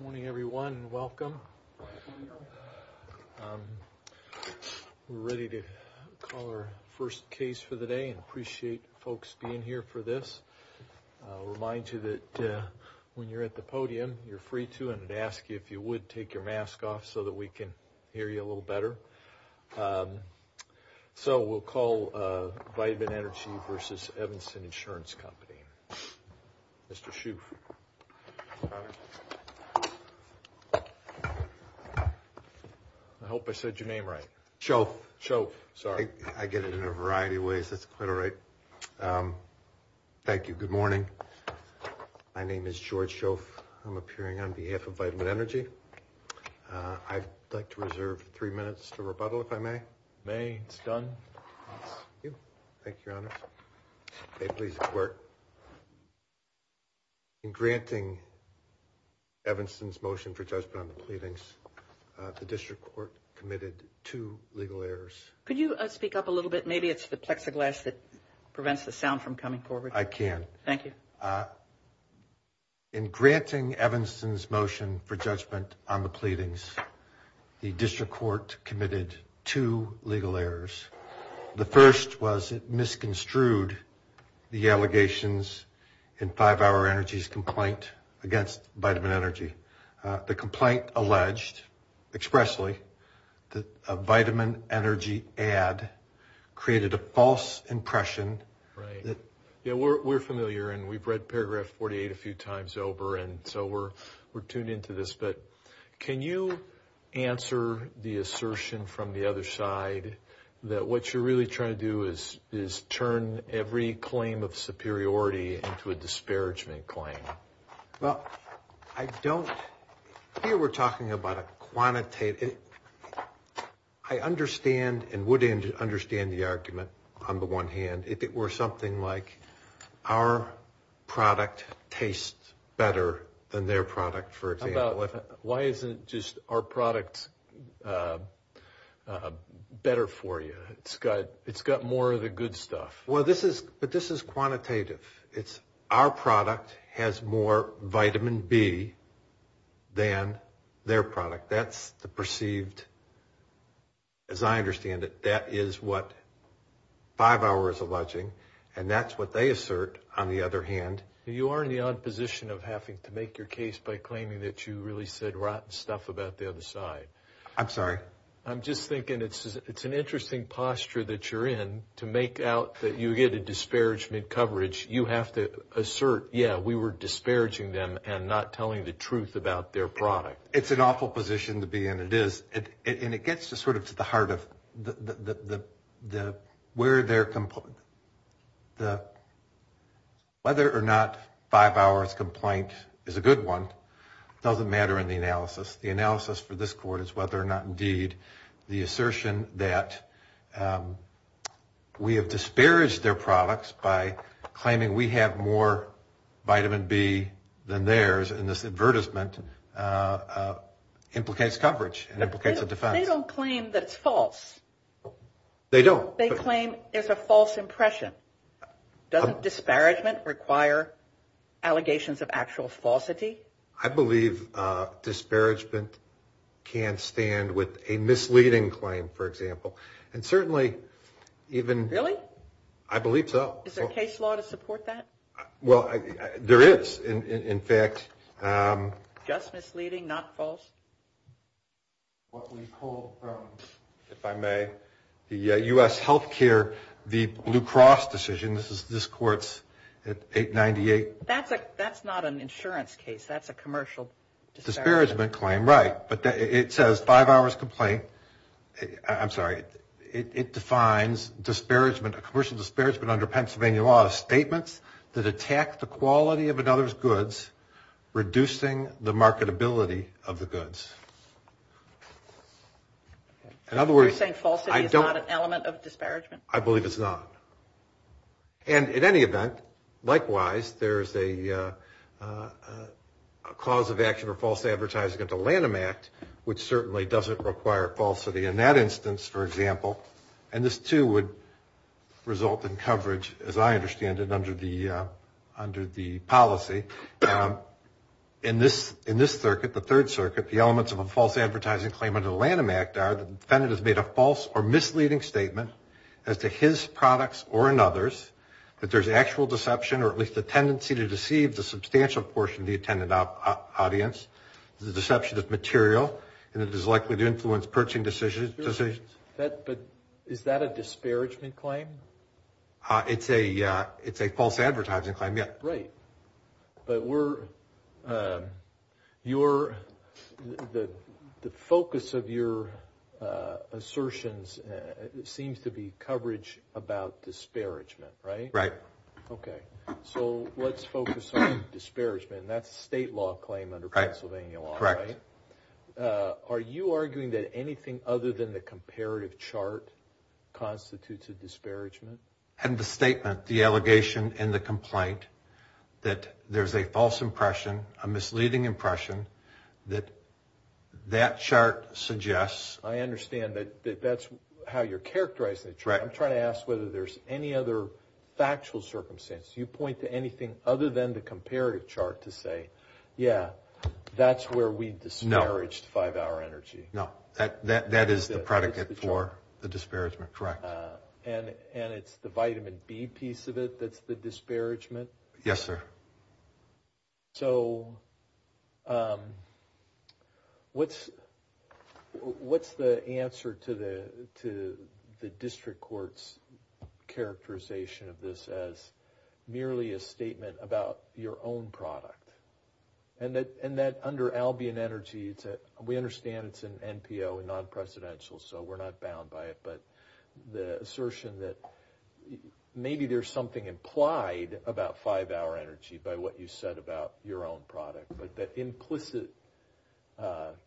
Morning, everyone. Welcome. We're ready to call our first case for the day and appreciate folks being here for this. I'll remind you that when you're at the podium, you're free to and ask you if you would take your mask off so that we can hear you a little better. So, we'll call Vitamin Energy v. Evanston Insurance Company. Mr. Shouf. I hope I said your name right. Shouf. Shouf. Sorry. I get it in a variety of ways. That's quite all right. Thank you. Good morning. My name is George Shouf. I'm appearing on behalf of Vitamin Energy. I'd like to reserve three minutes to rebuttal, if I may. May. It's done. Thank you, Your Honor. In granting Evanston's motion for judgment on the pleadings, the District Court committed two legal errors. Could you speak up a little bit? Maybe it's the plexiglass that prevents the sound from coming forward. I can. Thank you. In granting Evanston's motion for judgment on the pleadings, the District Court committed two legal errors. The first was it misconstrued the allegations in 5-Hour Energy's complaint against Vitamin Energy. The complaint alleged expressly that a Vitamin Energy ad created a false impression. Right. Yeah, we're familiar, and we've read paragraph 48 a few times over, and so we're tuned into this. But can you answer the assertion from the other side that what you're really trying to do is turn every claim of superiority into a disparagement claim? Well, I don't... Here we're talking about a quantitative... I understand and would understand the argument on the one hand. Why isn't just our product better for you? It's got more of the good stuff. Well, this is quantitative. Our product has more Vitamin B than their product. That's the perceived... As I understand it, that is what 5-Hour is alleging, and that's what they assert on the other hand. You are in the odd position of having to make your case by claiming that you really said rotten stuff about the other side. I'm sorry? I'm just thinking it's an interesting posture that you're in to make out that you get a disparagement coverage. You have to assert, yeah, we were disparaging them and not telling the truth about their product. It's an awful position to be in. It is. And it gets to sort of to the heart of the... Whether or not 5-Hour's complaint is a good one doesn't matter in the analysis. The analysis for this court is whether or not indeed the assertion that we have disparaged their products by claiming we have more Vitamin B than theirs in this advertisement implicates coverage and implicates a defense. They don't claim that it's false. They don't. They claim there's a false impression. Doesn't disparagement require allegations of actual falsity? I believe disparagement can stand with a misleading claim, for example, and certainly even... Really? I believe so. Is there case law to support that? Well, there is. In fact... Just what we pulled from, if I may, the U.S. Healthcare, the Blue Cross decision, this court's 898... That's not an insurance case. That's a commercial... Disparagement claim, right. But it says 5-Hour's complaint... I'm sorry. It defines disparagement, a commercial disparagement under Pennsylvania law as statements that attack the quality of another's goods, reducing the marketability of the goods. In other words... You're saying falsity is not an element of disparagement? I believe it's not. And in any event, likewise, there's a cause of action for false advertising under Lanham Act, which certainly doesn't require falsity. In that instance, for example, and this too would result in coverage, as I understand it, under the policy. In this circuit, the Third Circuit, the elements of a false advertising claim under the Lanham Act are that the defendant has made a false or misleading statement as to his products or another's, that there's actual deception or at least a tendency to deceive the substantial portion of the attendant audience. The deception is material and it is likely to influence purchasing decisions. But is that a disparagement claim? It's a false advertising claim, yes. Right. But we're... Your... The focus of your assertions seems to be coverage about disparagement. Right? Right. Okay. So let's focus on disparagement and that's a state law claim under Pennsylvania law, right? Correct. Are you arguing that anything other than the comparative chart constitutes a disparagement? And the statement, the allegation and the claim that there's a false impression, a misleading impression that that chart suggests... I understand that that's how you're characterizing the chart. I'm trying to ask whether there's any other factual circumstances. You point to anything other than the comparative chart to say, yeah, that's where we disparaged 5-Hour Energy. No. That is the predicate for the disparagement. Correct. And it's the vitamin B piece of it that's the disparagement? Yes, sir. So what's the answer to the district court's characterization of this as merely a statement about your own product? And that under Albion Energy, we understand it's an NPO and non-presidential, so we're not bound by it. But the assertion that maybe there's something implied about 5-Hour Energy by what you said about your own product, but that implicit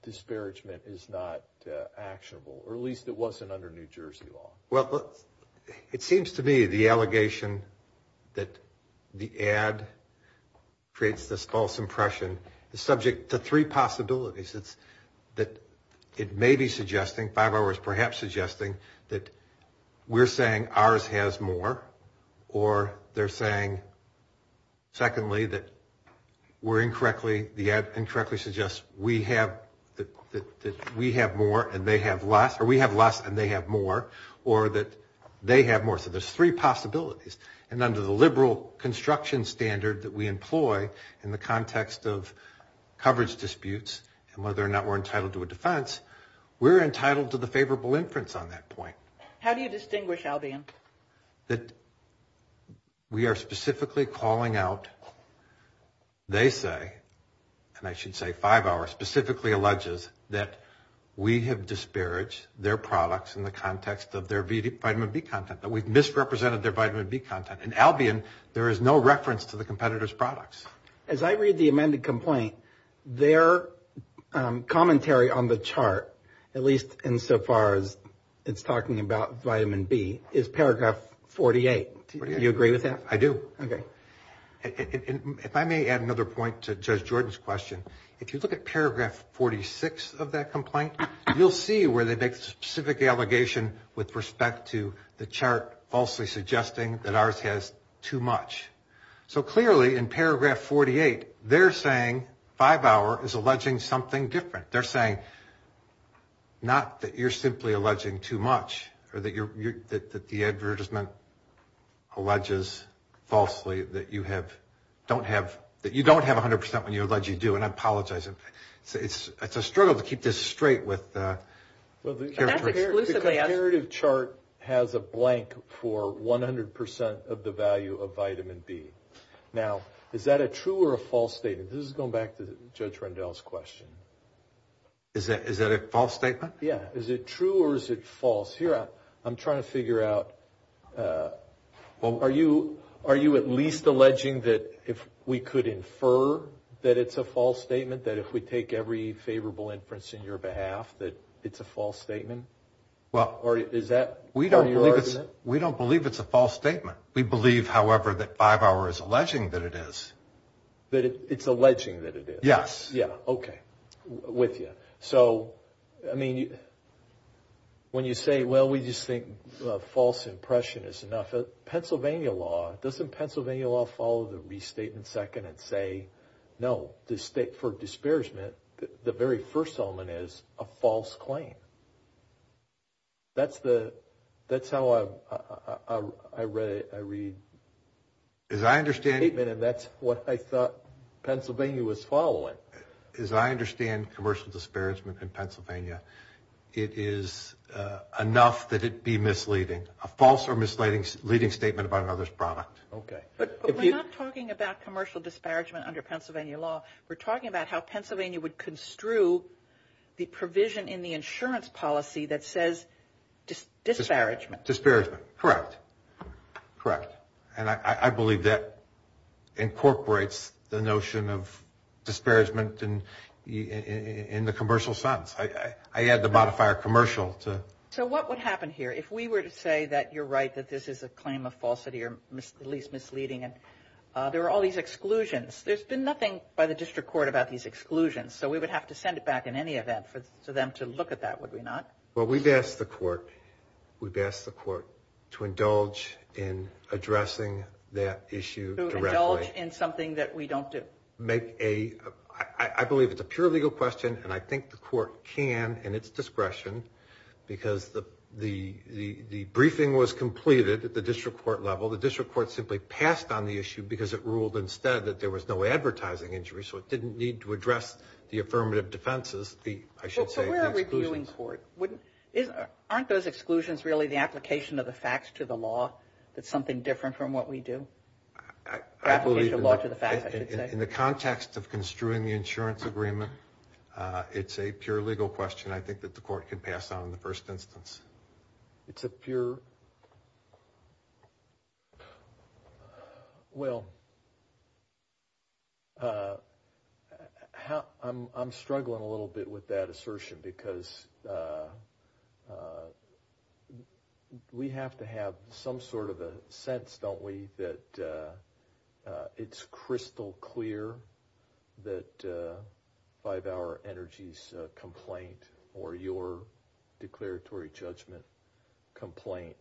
disparagement is not actionable, or at least it wasn't under New Jersey law. Well, it seems to me the allegation that the ad creates this false impression is subject to three possibilities. It's that it may be suggesting, 5-Hour is perhaps suggesting, that we're saying ours has more, or they're saying, secondly, that we're incorrectly, the ad incorrectly suggests we have more and they have less, or we have less and they have more, or that they have more. So there's three possibilities. And under the liberal construction standard that we employ in the context of favorable inference on that point. How do you distinguish Albion? That we are specifically calling out, they say, and I should say 5-Hour specifically alleges that we have disparaged their products in the context of their vitamin B content, that we've misrepresented their vitamin B content. And Albion, there is no reference to the competitor's products. As I read the amended complaint, their insofar as it's talking about vitamin B, is paragraph 48. Do you agree with that? I do. Okay. If I may add another point to Judge Jordan's question, if you look at paragraph 46 of that complaint, you'll see where they make specific allegation with respect to the chart falsely suggesting that ours has too much. So clearly in paragraph 48, they're saying 5-Hour is that you're simply alleging too much, or that the advertisement alleges falsely that you don't have 100% when you allege you do. And I apologize. It's a struggle to keep this straight with... The comparative chart has a blank for 100% of the value of vitamin B. Now, is that a true or a false statement? This is going back to Judge Rendell's question. Is that a false statement? Yeah. Is it true or is it false? Here, I'm trying to figure out... Are you at least alleging that if we could infer that it's a false statement, that if we take every favorable inference in your behalf, that it's a false statement? Or is that part of your argument? We don't believe it's a false statement. We believe, however, that 5-Hour is alleging that it is. That it's alleging that it is? Yes. Yeah. Okay. With you. So, I mean, when you say, well, we just think a false impression is enough. Pennsylvania law, doesn't Pennsylvania law follow the restatement second and say, no, for disparagement, the very first element is a false claim? That's how I read it. As I understand it... As I understand commercial disparagement in Pennsylvania, it is enough that it be misleading, a false or misleading statement about another's product. Okay. But we're not talking about commercial disparagement under Pennsylvania law. We're talking about how Pennsylvania would construe the provision in the insurance policy that says disparagement. Disparagement. Correct. Correct. And I believe that incorporates the notion of disparagement in the commercial sense. I add the modifier commercial to... So what would happen here if we were to say that you're right, that this is a claim of falsity or at least misleading. There are all these exclusions. There's been nothing by the district court about these exclusions. So we would have to send it back in any event for them to look at that, would we not? Well, we've asked the court to indulge in addressing that issue directly. To indulge in something that we don't do. Make a... I believe it's a pure legal question, and I think the court can, in its discretion, because the briefing was completed at the district court level. The district court simply passed on the issue because it ruled instead that there was no advertising injury. So it didn't need to address the affirmative defenses. So we're a reviewing court. Aren't those exclusions really the application of the facts to the law? That's something different from what we do? Application of law to the facts, I should say. In the context of construing the insurance agreement, it's a pure legal question I think that the court can pass on in the first instance. It's a pure... Well, I'm struggling a little bit with that assertion because I think we have to have some sort of a sense, don't we, that it's crystal clear that 5-Hour Energy's complaint or your declaratory judgment complaint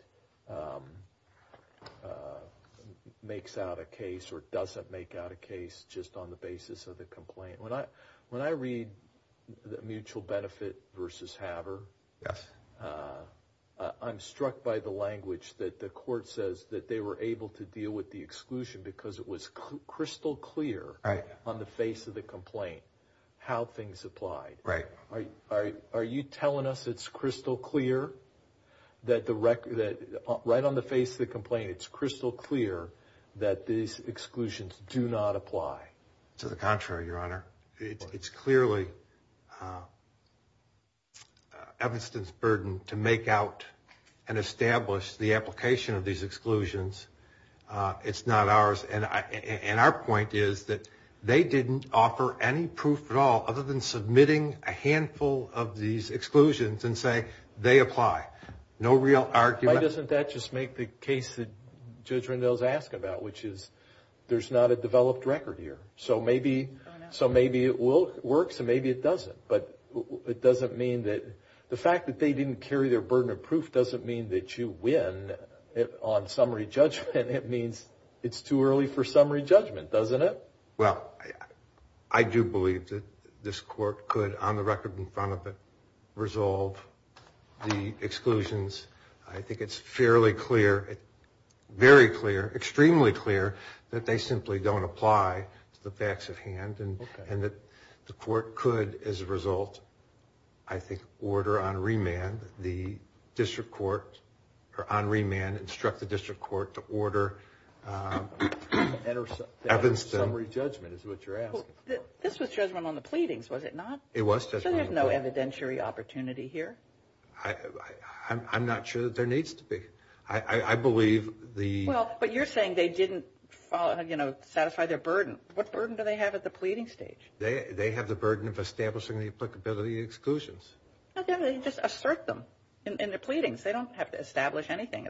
makes out a case or doesn't make out a case just on the basis of the complaint. When I read the mutual benefit versus Haver, I'm struck by the language that the court says that they were able to deal with the exclusion because it was crystal clear on the face of the complaint how things applied. Are you telling us it's crystal clear that right on the face of the complaint, it's crystal clear that these exclusions do not apply? To the contrary, Your Honor. It's clearly Evanston's burden to make out and establish the application of these exclusions. It's not ours. And our point is that they didn't offer any proof at all other than submitting a handful of these exclusions and say they apply. No real argument. Why doesn't that just make the case that Judge Rendell's asked about, which is there's not a developed record here? So maybe it works and maybe it doesn't. The fact that they didn't carry their burden of proof doesn't mean that you win on summary judgment. It means it's too early for summary judgment, doesn't it? Well, I do believe that this court could, on the record in front of it, resolve the exclusions. I think it's fairly clear, very clear, extremely clear that they simply don't apply to the facts at hand and that the court could, as a result, I think order on remand the district court or on remand instruct the district court to order summary judgment is what you're asking. This was judgment on the pleadings, was it not? It was judgment on the pleadings. So there's no evidentiary opportunity here? I'm not sure that there needs to be. I believe the... Well, but you're saying they didn't satisfy their burden. What burden do they have at the pleading stage? They have the burden of establishing the applicability exclusions. No, they just assert them in the pleadings. They don't have to establish anything.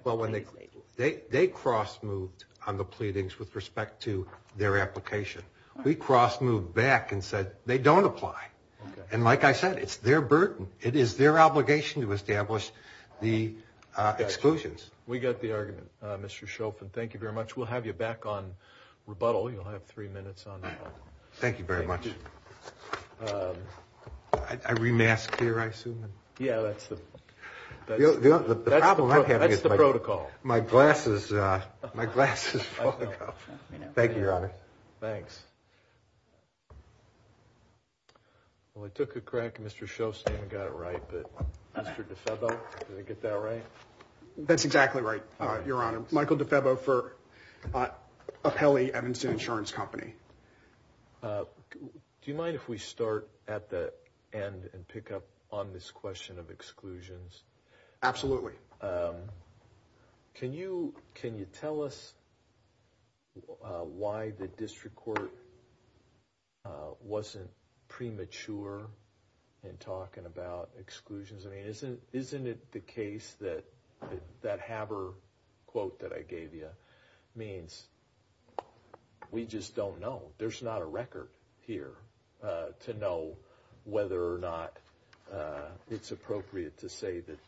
They cross moved on the pleadings with respect to their application. We cross moved back and they don't apply. And like I said, it's their burden. It is their obligation to establish the exclusions. We get the argument, Mr. Shofan. Thank you very much. We'll have you back on rebuttal. You'll have three minutes on that. Thank you very much. I remasked here, I assume? Yeah, that's the protocol. My glasses, my glasses. Thank you, Your Honor. Thanks. Well, I took a crack at Mr. Shofan and got it right, but Mr. DeFebo, did I get that right? That's exactly right, Your Honor. Michael DeFebo for Apelli Evanson Insurance Company. Do you mind if we start at the end and pick up on this question of exclusions? Absolutely. Can you tell us why the district court wasn't premature in talking about exclusions? I mean, isn't it the case that that Haber quote that I gave you means we just don't know? There's not a record here to know whether or not it's appropriate to say that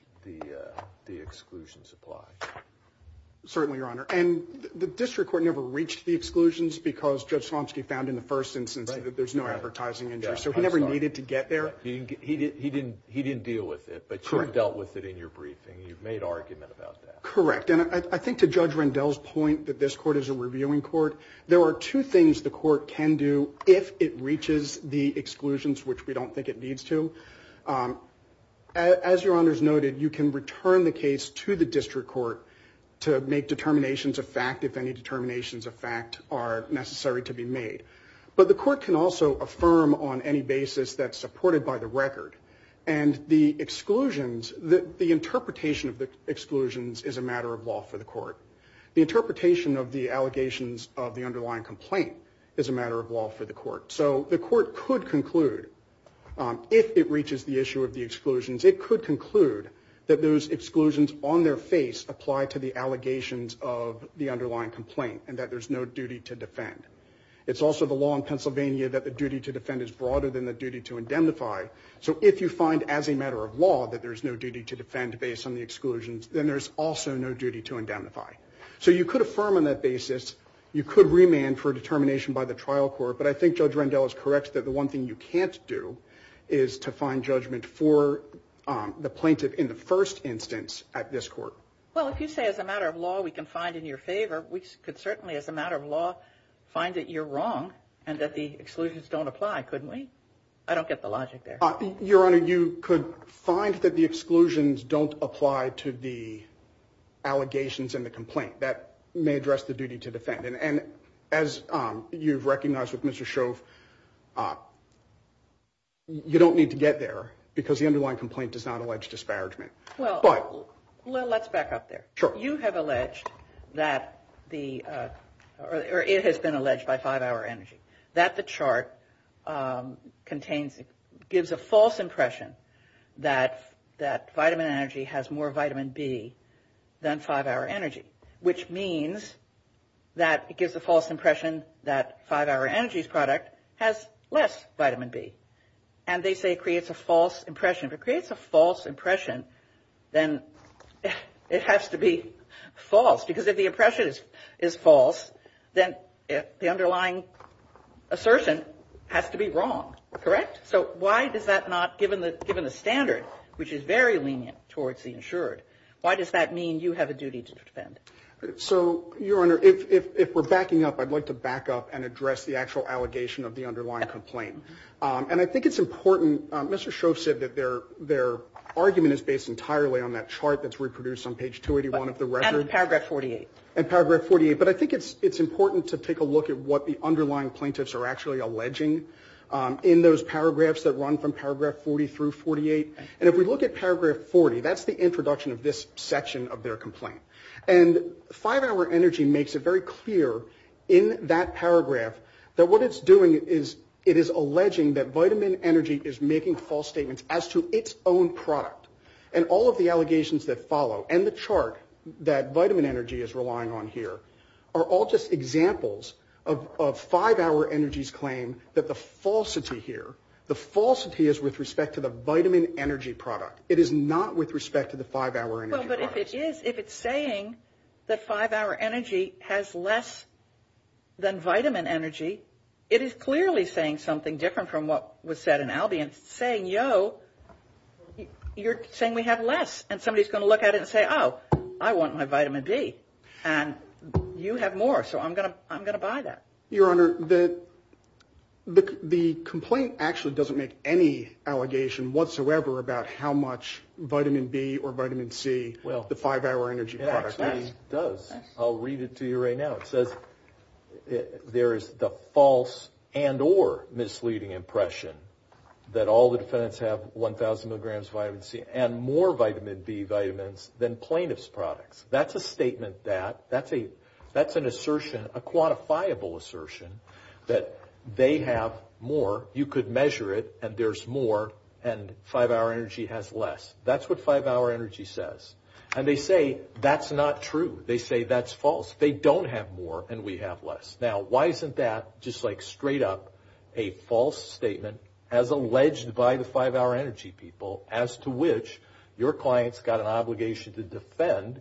the exclusions apply. Certainly, Your Honor. And the district court never reached the exclusions because Judge Slomski found in the first instance that there's no advertising injury, so he never needed to get there. He didn't deal with it, but you've dealt with it in your briefing. You've made argument about that. Correct. And I think to Judge Rendell's point that this court is a reviewing court, there are two things the court can do if it reaches the exclusions, which we don't think it needs to. As Your Honor's noted, you can return the case to the district court to make determinations of fact if any determinations of fact are necessary to be made. But the court can also affirm on any basis that's supported by the record. And the exclusions, the interpretation of the exclusions is a matter of law for the court. The interpretation of the allegations of the underlying complaint is a matter of law for the court. So the court could conclude, if it reaches the issue of the exclusions, it could conclude that those exclusions on their face apply to the allegations of the underlying complaint and that there's no duty to defend. It's also the law in Pennsylvania that the duty to defend is broader than the duty to indemnify. So if you find as a matter of law that there's no duty to defend based on the exclusions, then there's also no duty to indemnify. So you could affirm on that basis, you could remand for determination by the trial court. But I think Judge Rendell is correct that the one thing you can't do is to find judgment for the plaintiff in the first instance at this court. Well, if you say as a matter of law, we can find in your favor, we could certainly as a matter of law find that you're wrong and that the exclusions don't apply, couldn't we? I don't get the logic there. Your Honor, you could find that the exclusions don't apply to the allegations in the complaint. That may address the duty to defend. And as you've recognized with Mr. Shove, you don't need to get there because the underlying complaint does not allege disparagement. Well, let's back up there. You have alleged that the, or it has been alleged by 5-Hour Energy, that the chart contains, gives a false impression that vitamin energy has more vitamin B than 5-Hour Energy. Which means that it gives a false impression that 5-Hour Energy's product has less vitamin B. And they say it creates a false impression. If it creates a false impression, then it has to be false. Because if the impression is false, then the underlying assertion has to be wrong. Correct? So why does that not, given the standard, which is very lenient towards the insured, why does that mean you have a duty to defend? So, Your Honor, if we're backing up, I'd like to back up and address the actual allegation of the underlying complaint. And I think it's important, Mr. Shove said that their argument is based entirely on that chart that's reproduced on page 281 of the record. And paragraph 48. And paragraph 48. But I think it's important to take a look at what the underlying plaintiffs are actually alleging in those paragraphs that run from paragraph 40 through 48. And if we look at paragraph 40, that's the introduction of this section of their complaint. And 5-Hour Energy makes it very clear in that paragraph that what it's doing is, it is alleging that vitamin energy is making false statements as to its own product. And all of the allegations that follow, and the chart that Vitamin Energy is relying on here, are all just examples of 5-Hour Energy's claim that the falsity here, the falsity is with respect to the vitamin energy product. It is not with respect to the 5-Hour Energy product. Well, but if it is, if it's saying that 5-Hour Energy has less than vitamin energy, it is clearly saying something different from what was said in Albion. Saying, yo, you're saying we have less. And somebody's going to look at it and say, oh, I want my vitamin D. And you have more. So I'm going to buy that. Your Honor, the complaint actually doesn't make any allegation whatsoever about how much vitamin B or vitamin C the 5-Hour Energy product does. I'll read it to you right now. It says there is the false and or misleading impression that all the defendants have 1,000 milligrams of vitamin C and more vitamin B vitamins than plaintiff's products. That's a statement that, that's an assertion, a quantifiable assertion that they have more, you could measure it, and there's more, and 5-Hour Energy has less. That's what 5-Hour Energy says. And they say that's not true. They say that's false. They don't have more and we have less. Now, why isn't that just like straight up a false statement as alleged by the 5-Hour Energy people as to which your client's got an obligation to defend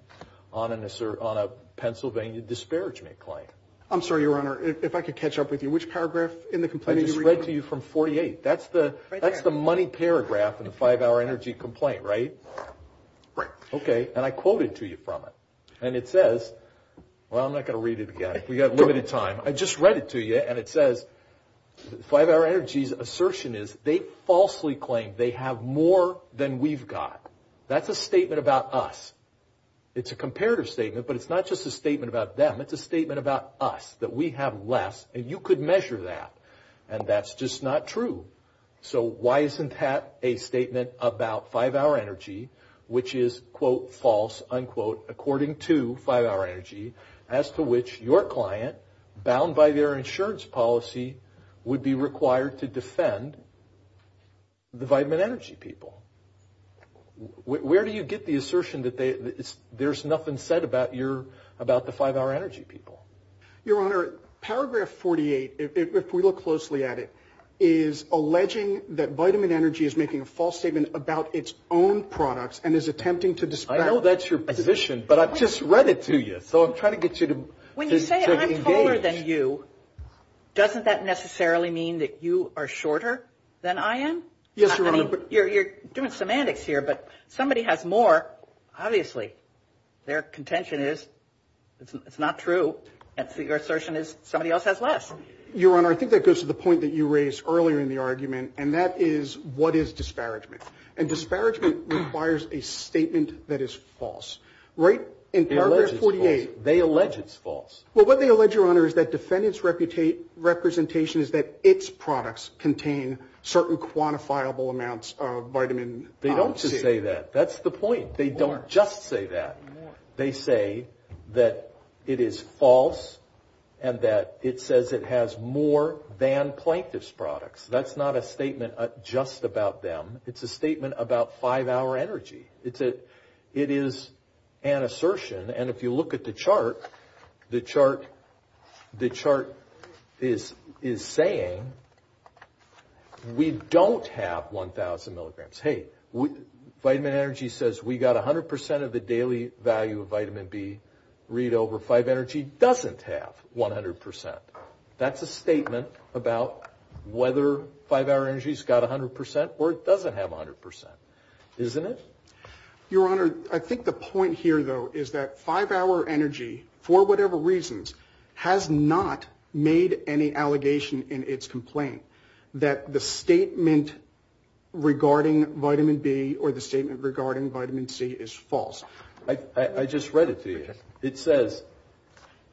on a Pennsylvania disparagement claim? I'm sorry, Your Honor, if I could catch up with you. Which paragraph in the complaint did you read? I just read to you from 48. That's the money paragraph in the 5-Hour Energy complaint, right? Right. Okay. And I quoted to you from it. And it says, well, I'm not going to read it again. We've got limited time. I just read it to you and it says, 5-Hour Energy's assertion is they falsely claim they have more than we've got. That's a statement about us. It's a comparative statement, but it's not just a statement about them. It's a statement about us, that we have less and you could measure that, and that's just not true. So why isn't that a statement about 5-Hour Energy, which is, quote, false, unquote, according to 5-Hour Energy, as to which your client, bound by their insurance policy, would be required to defend the Vitamin Energy people? Where do you get the assertion that there's nothing said about the 5-Hour Energy people? Your Honor, paragraph 48, if we look closely at it, is alleging that Vitamin Energy is making a false statement about its own products and is attempting to dispel- I know that's your position, but I've just read it to you. So I'm trying to get you to engage. When you say I'm taller than you, doesn't that necessarily mean that you are shorter than I am? Yes, Your Honor. I mean, you're doing semantics here, but somebody has more, obviously. Their contention is it's not true. And so your assertion is somebody else has less. Your Honor, I think that goes to the point that you raised earlier in the argument, and that is, what is disparagement? And disparagement requires a statement that is false. Right? In paragraph 48- They allege it's false. Well, what they allege, Your Honor, is that defendants' representation is that its products contain certain quantifiable amounts of vitamin C. They don't just say that. That's the point. They don't just say that. They say that it is false and that it says it has more than plaintiff's products. That's not a statement just about them. It's a statement about five-hour energy. It is an assertion. And if you look at the chart, the chart is saying we don't have 1,000 milligrams. Hey, vitamin energy says we got 100 percent of the daily value of vitamin B read over. Five-hour energy doesn't have 100 percent. That's a statement about whether five-hour energy's got 100 percent or it doesn't have 100 percent, isn't it? Your Honor, I think the point here, though, is that five-hour energy, for whatever reasons, has not made any allegation in its complaint. That the statement regarding vitamin B or the statement regarding vitamin C is false. I just read it to you. It says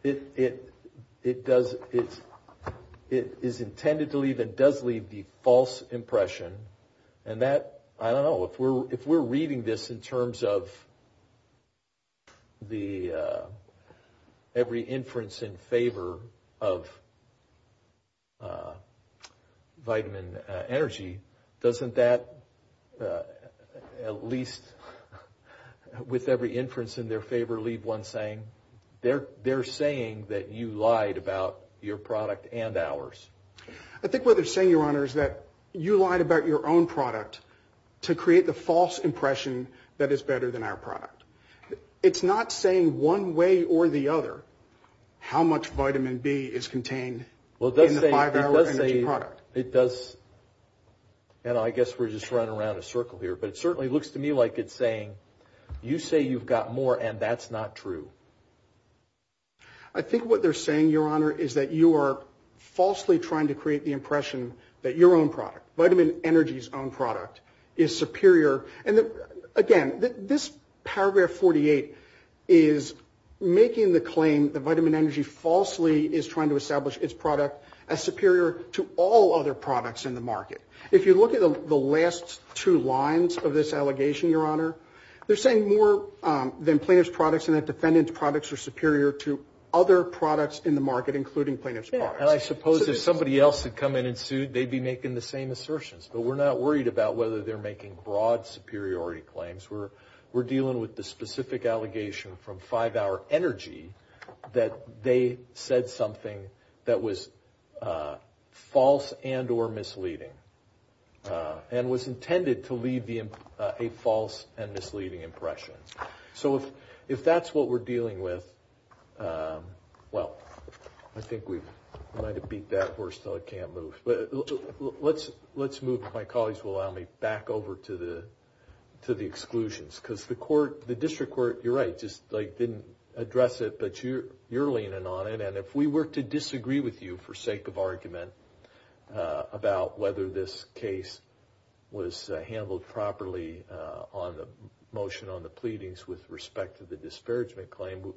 it is intended to leave and does leave the false impression. And that, I don't know, if we're reading this in terms of every inference in favor of vitamin energy, doesn't that at least with every inference in their favor leave one saying? They're saying that you lied about your product and ours. I think what they're saying, Your Honor, is that you lied about your own product to create the false impression that it's better than our product. It's not saying one way or the other how much vitamin B is contained in the five-hour energy product. It does, and I guess we're just running around a circle here, but it certainly looks to me like it's saying you say you've got more and that's not true. I think what they're saying, Your Honor, is that you are falsely trying to create the impression that your own product, vitamin energy's own product, is superior. And again, this paragraph 48 is making the claim that vitamin energy falsely is trying to establish its product as superior to all other products in the market. If you look at the last two lines of this allegation, Your Honor, they're saying more than plaintiff's products and that defendant's products are superior to other products in the market, including plaintiff's products. And I suppose if somebody else had come in and sued, they'd be making the same assertions, but we're not worried about whether they're making broad superiority claims. We're dealing with the specific allegation from five-hour energy that they said something that was false and or misleading and was intended to leave a false and misleading impression. So if that's what we're dealing with, well, I think we might have beat that horse so I can't move. Let's move, if my colleagues will allow me, back over to the exclusions. Because the court, the district court, you're right, just didn't address it, but you're leaning on it. And if we were to disagree with you for sake of argument about whether this case was handled properly on the motion on the pleadings with respect to the disparagement claim,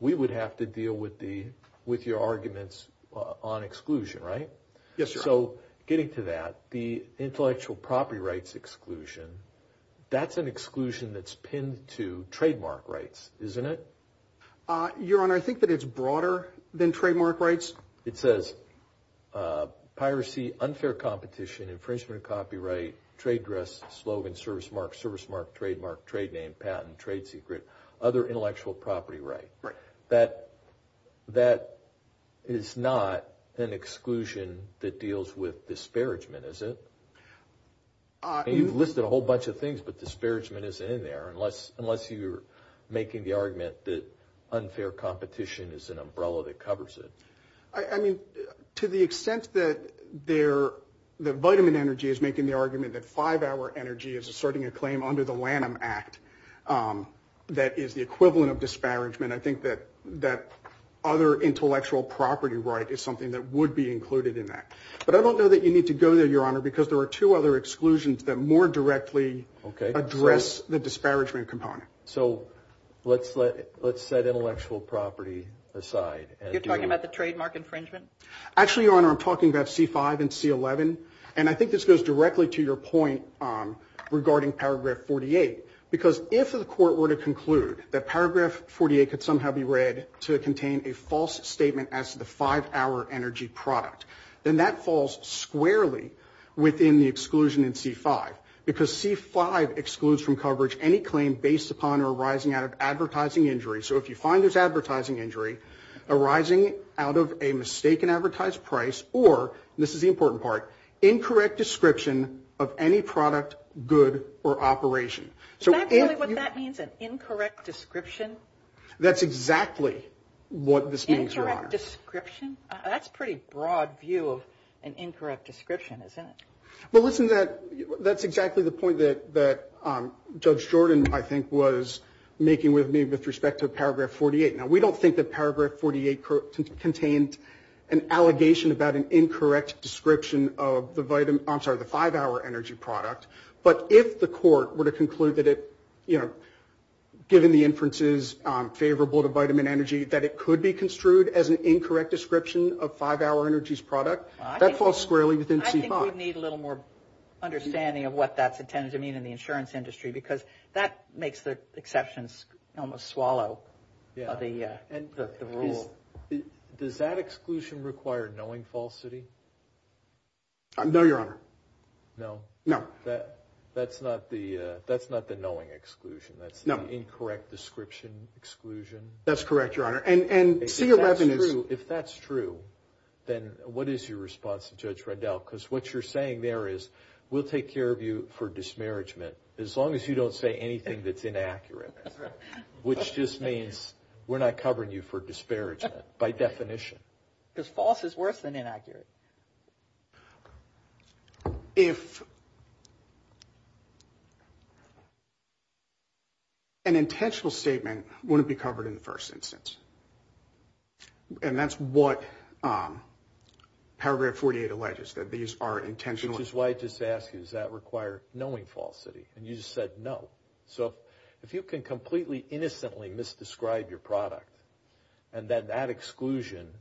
we would have to deal with your arguments on exclusion, right? Yes, sir. So getting to that, the intellectual property rights exclusion, that's an exclusion that's pinned to trademark rights, isn't it? Your Honor, I think that it's broader than trademark rights. It says piracy, unfair competition, infringement of copyright, trade dress, slogan, service mark, service mark, trademark, trade name, patent, trade secret, other intellectual property right. Right. That is not an exclusion that deals with disparagement, is it? You've listed a whole bunch of things, but disparagement isn't in there unless you're making the argument that unfair competition is an umbrella that covers it. I mean, to the extent that the vitamin energy is making the argument that five-hour energy is asserting a claim under the Lanham Act that is the equivalent of disparagement, I think that other intellectual property right is something that would be included in that. But I don't know that you need to go there, Your Honor, because there are two other exclusions that more directly address the disparagement component. So let's set intellectual property aside. You're talking about the trademark infringement? Actually, Your Honor, I'm talking about C5 and C11, and I think this goes directly to your point regarding paragraph 48, because if the court were to conclude that paragraph 48 could somehow be read to contain a false statement as to the five-hour energy product, then that falls squarely within the exclusion in C5, because C5 excludes from coverage any claim based upon or arising out of advertising injury. So if you find there's advertising injury arising out of a mistaken advertised price or, and this is the important part, incorrect description of any product, good, or operation. Is that really what that means, an incorrect description? That's exactly what this means, Your Honor. Incorrect description? That's a pretty broad view of an incorrect description, isn't it? Well, listen to that. That's exactly the point that Judge Jordan, I think, was making with me with respect to paragraph 48. Now, we don't think that paragraph 48 contained an allegation about an incorrect description of the five-hour energy product. But if the court were to conclude that it, given the inferences favorable to vitamin energy, that it could be construed as an incorrect description of five-hour energy's product, that falls squarely within C5. I think we need a little more understanding of what that's intended to mean in the insurance industry, because that makes the exceptions almost swallow the rule. Does that exclusion require knowing falsity? No, Your Honor. No? No. That's not the knowing exclusion. That's the incorrect description exclusion? That's correct, Your Honor. And C11 is- If that's true, then what is your response to Judge Rendell? Because what you're saying there is, we'll take care of you for dismarriagement as long as you don't say anything that's inaccurate, which just means we're not covering you for disparagement by definition. Because false is worse than inaccurate. If an intentional statement wouldn't be covered in the first instance, and that's what Paragraph 48 alleges, that these are intentional- Which is why I just asked you, does that require knowing falsity? And you just said no. So if you can completely, innocently misdescribe your product, and then that exclusion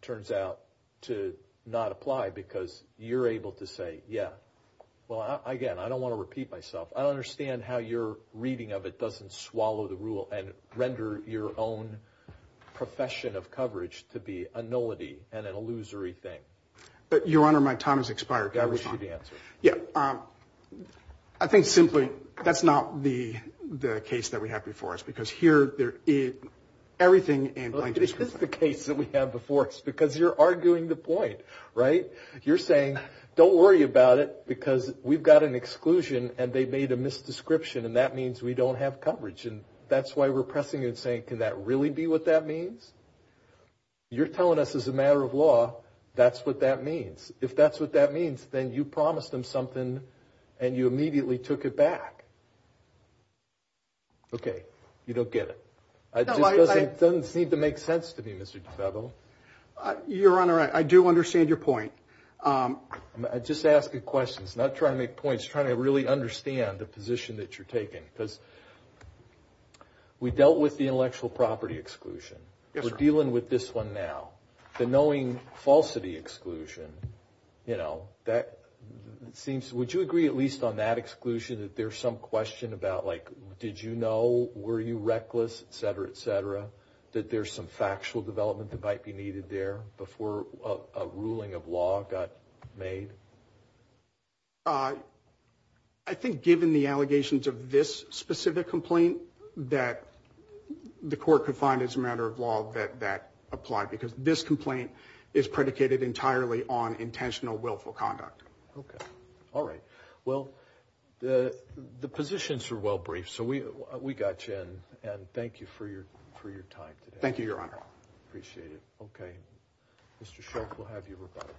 turns out to not apply because you're able to say, yeah. Well, again, I don't want to repeat myself. I understand how your reading of it doesn't swallow the rule and render your own profession of coverage to be a nullity and an illusory thing. But Your Honor, my time has expired. I wish you the answer. Yeah. I think simply, that's not the case that we have before us. Because here, everything in plain- You're arguing the point, right? You're saying, don't worry about it, because we've got an exclusion, and they've made a misdescription. And that means we don't have coverage. And that's why we're pressing you and saying, can that really be what that means? You're telling us as a matter of law, that's what that means. If that's what that means, then you promised them something, and you immediately took it back. Okay. You don't get it. It doesn't seem to make sense to me, Mr. DeFedro. Your Honor, I do understand your point. I'm just asking questions, not trying to make points, trying to really understand the position that you're taking. Because we dealt with the intellectual property exclusion. We're dealing with this one now. The knowing falsity exclusion, would you agree, at least on that exclusion, that there's some question about, did you know, were you reckless, et cetera, et cetera? That there's some factual development that might be needed there before a ruling of law got made? I think given the allegations of this specific complaint, that the court could find as a matter of law that that applied. Because this complaint is predicated entirely on intentional willful conduct. Okay. All right. Well, the positions are well briefed. We got you in. And thank you for your time today. Thank you, Your Honor. Appreciate it. Okay. Mr. Schultz, we'll have you rebuttal.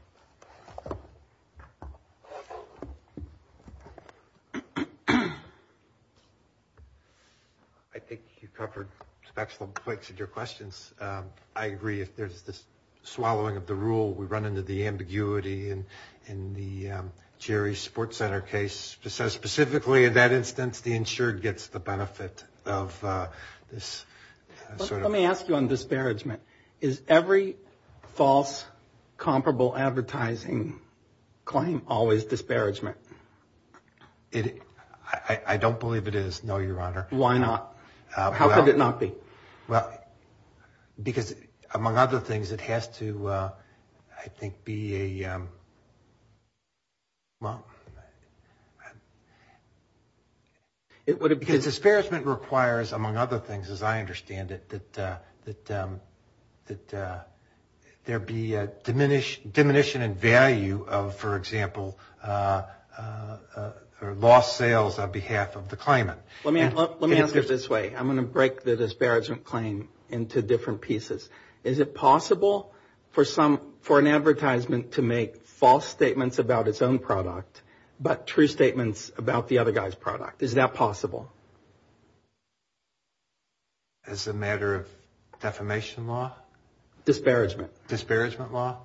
I think you covered special points of your questions. I agree. If there's this swallowing of the rule, we run into the ambiguity. In the Jerry's Sports Center case, specifically in that instance, the insured gets the benefit of this. Let me ask you on disparagement. Is every false comparable advertising claim always disparagement? I don't believe it is. No, Your Honor. Why not? How could it not be? Well, because among other things, it has to, I think, be a, well... Because disparagement requires, among other things, as I understand it, that there be diminution in value of, for example, lost sales on behalf of the claimant. Let me answer it this way. I'm going to break the disparagement claim into different pieces. Is it possible for an advertisement to make false statements about its own product, but true statements about the other guy's product? Is that possible? As a matter of defamation law? Disparagement. Disparagement law?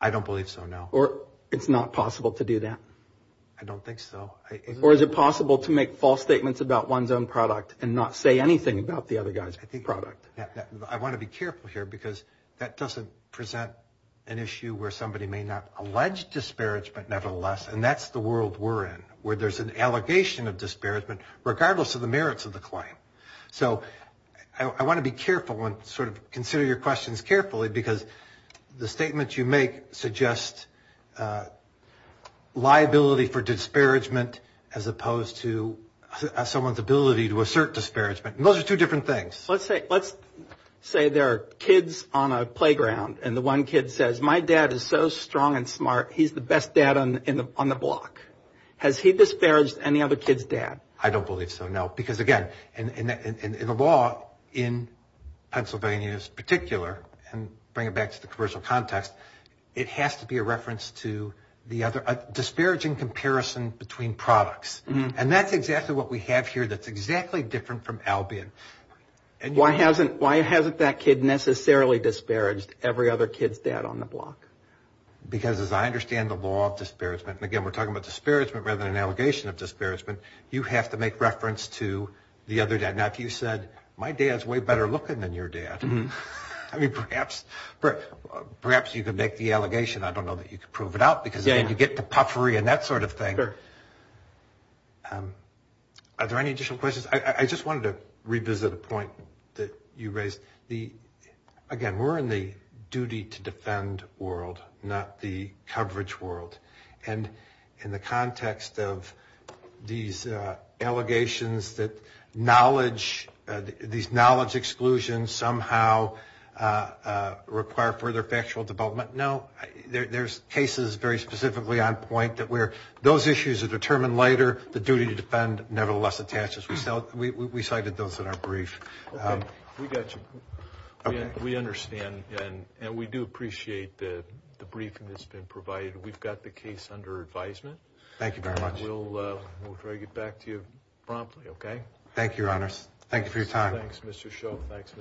I don't believe so, no. Or it's not possible to do that? I don't think so. Or is it possible to make false statements about one's own product and not say anything about the other guy's product? I want to be careful here, because that doesn't present an issue where somebody may not allege disparagement nevertheless, and that's the world we're in, where there's an allegation of disparagement, regardless of the merits of the claim. So I want to be careful and sort of consider your questions carefully, because the statements you make suggest liability for disparagement as opposed to someone's ability to assert disparagement. Those are two different things. Let's say there are kids on a playground, and the one kid says, my dad is so strong and smart, he's the best dad on the block. Has he disparaged any other kid's dad? I don't believe so, no. Because again, in the law in Pennsylvania in particular, and bring it back to the commercial context, it has to be a reference to a disparaging comparison between products. And that's exactly what we have here that's exactly different from Albion. Why hasn't that kid necessarily disparaged every other kid's dad on the block? Because as I understand the law of disparagement, and again, we're talking about disparagement rather than an allegation of disparagement, you have to make reference to the other dad. Now, if you said, my dad's way better looking than your dad, I mean, perhaps. Perhaps you could make the allegation. I don't know that you could prove it out, because then you get to puffery and that sort of thing. Are there any additional questions? I just wanted to revisit a point that you raised. Again, we're in the duty to defend world, not the coverage world. And in the context of these allegations that knowledge, these knowledge exclusions somehow require further factual development, no. There's cases very specifically on point that where those issues are determined later, the duty to defend nevertheless attaches. We cited those in our brief. We got you. We understand, and we do appreciate the briefing that's been provided. We've got the case under advisement. Thank you very much. We'll try to get back to you promptly. Okay. Thank you, Your Honor. Thank you for your time. Thanks, Mr. Shove. Thanks.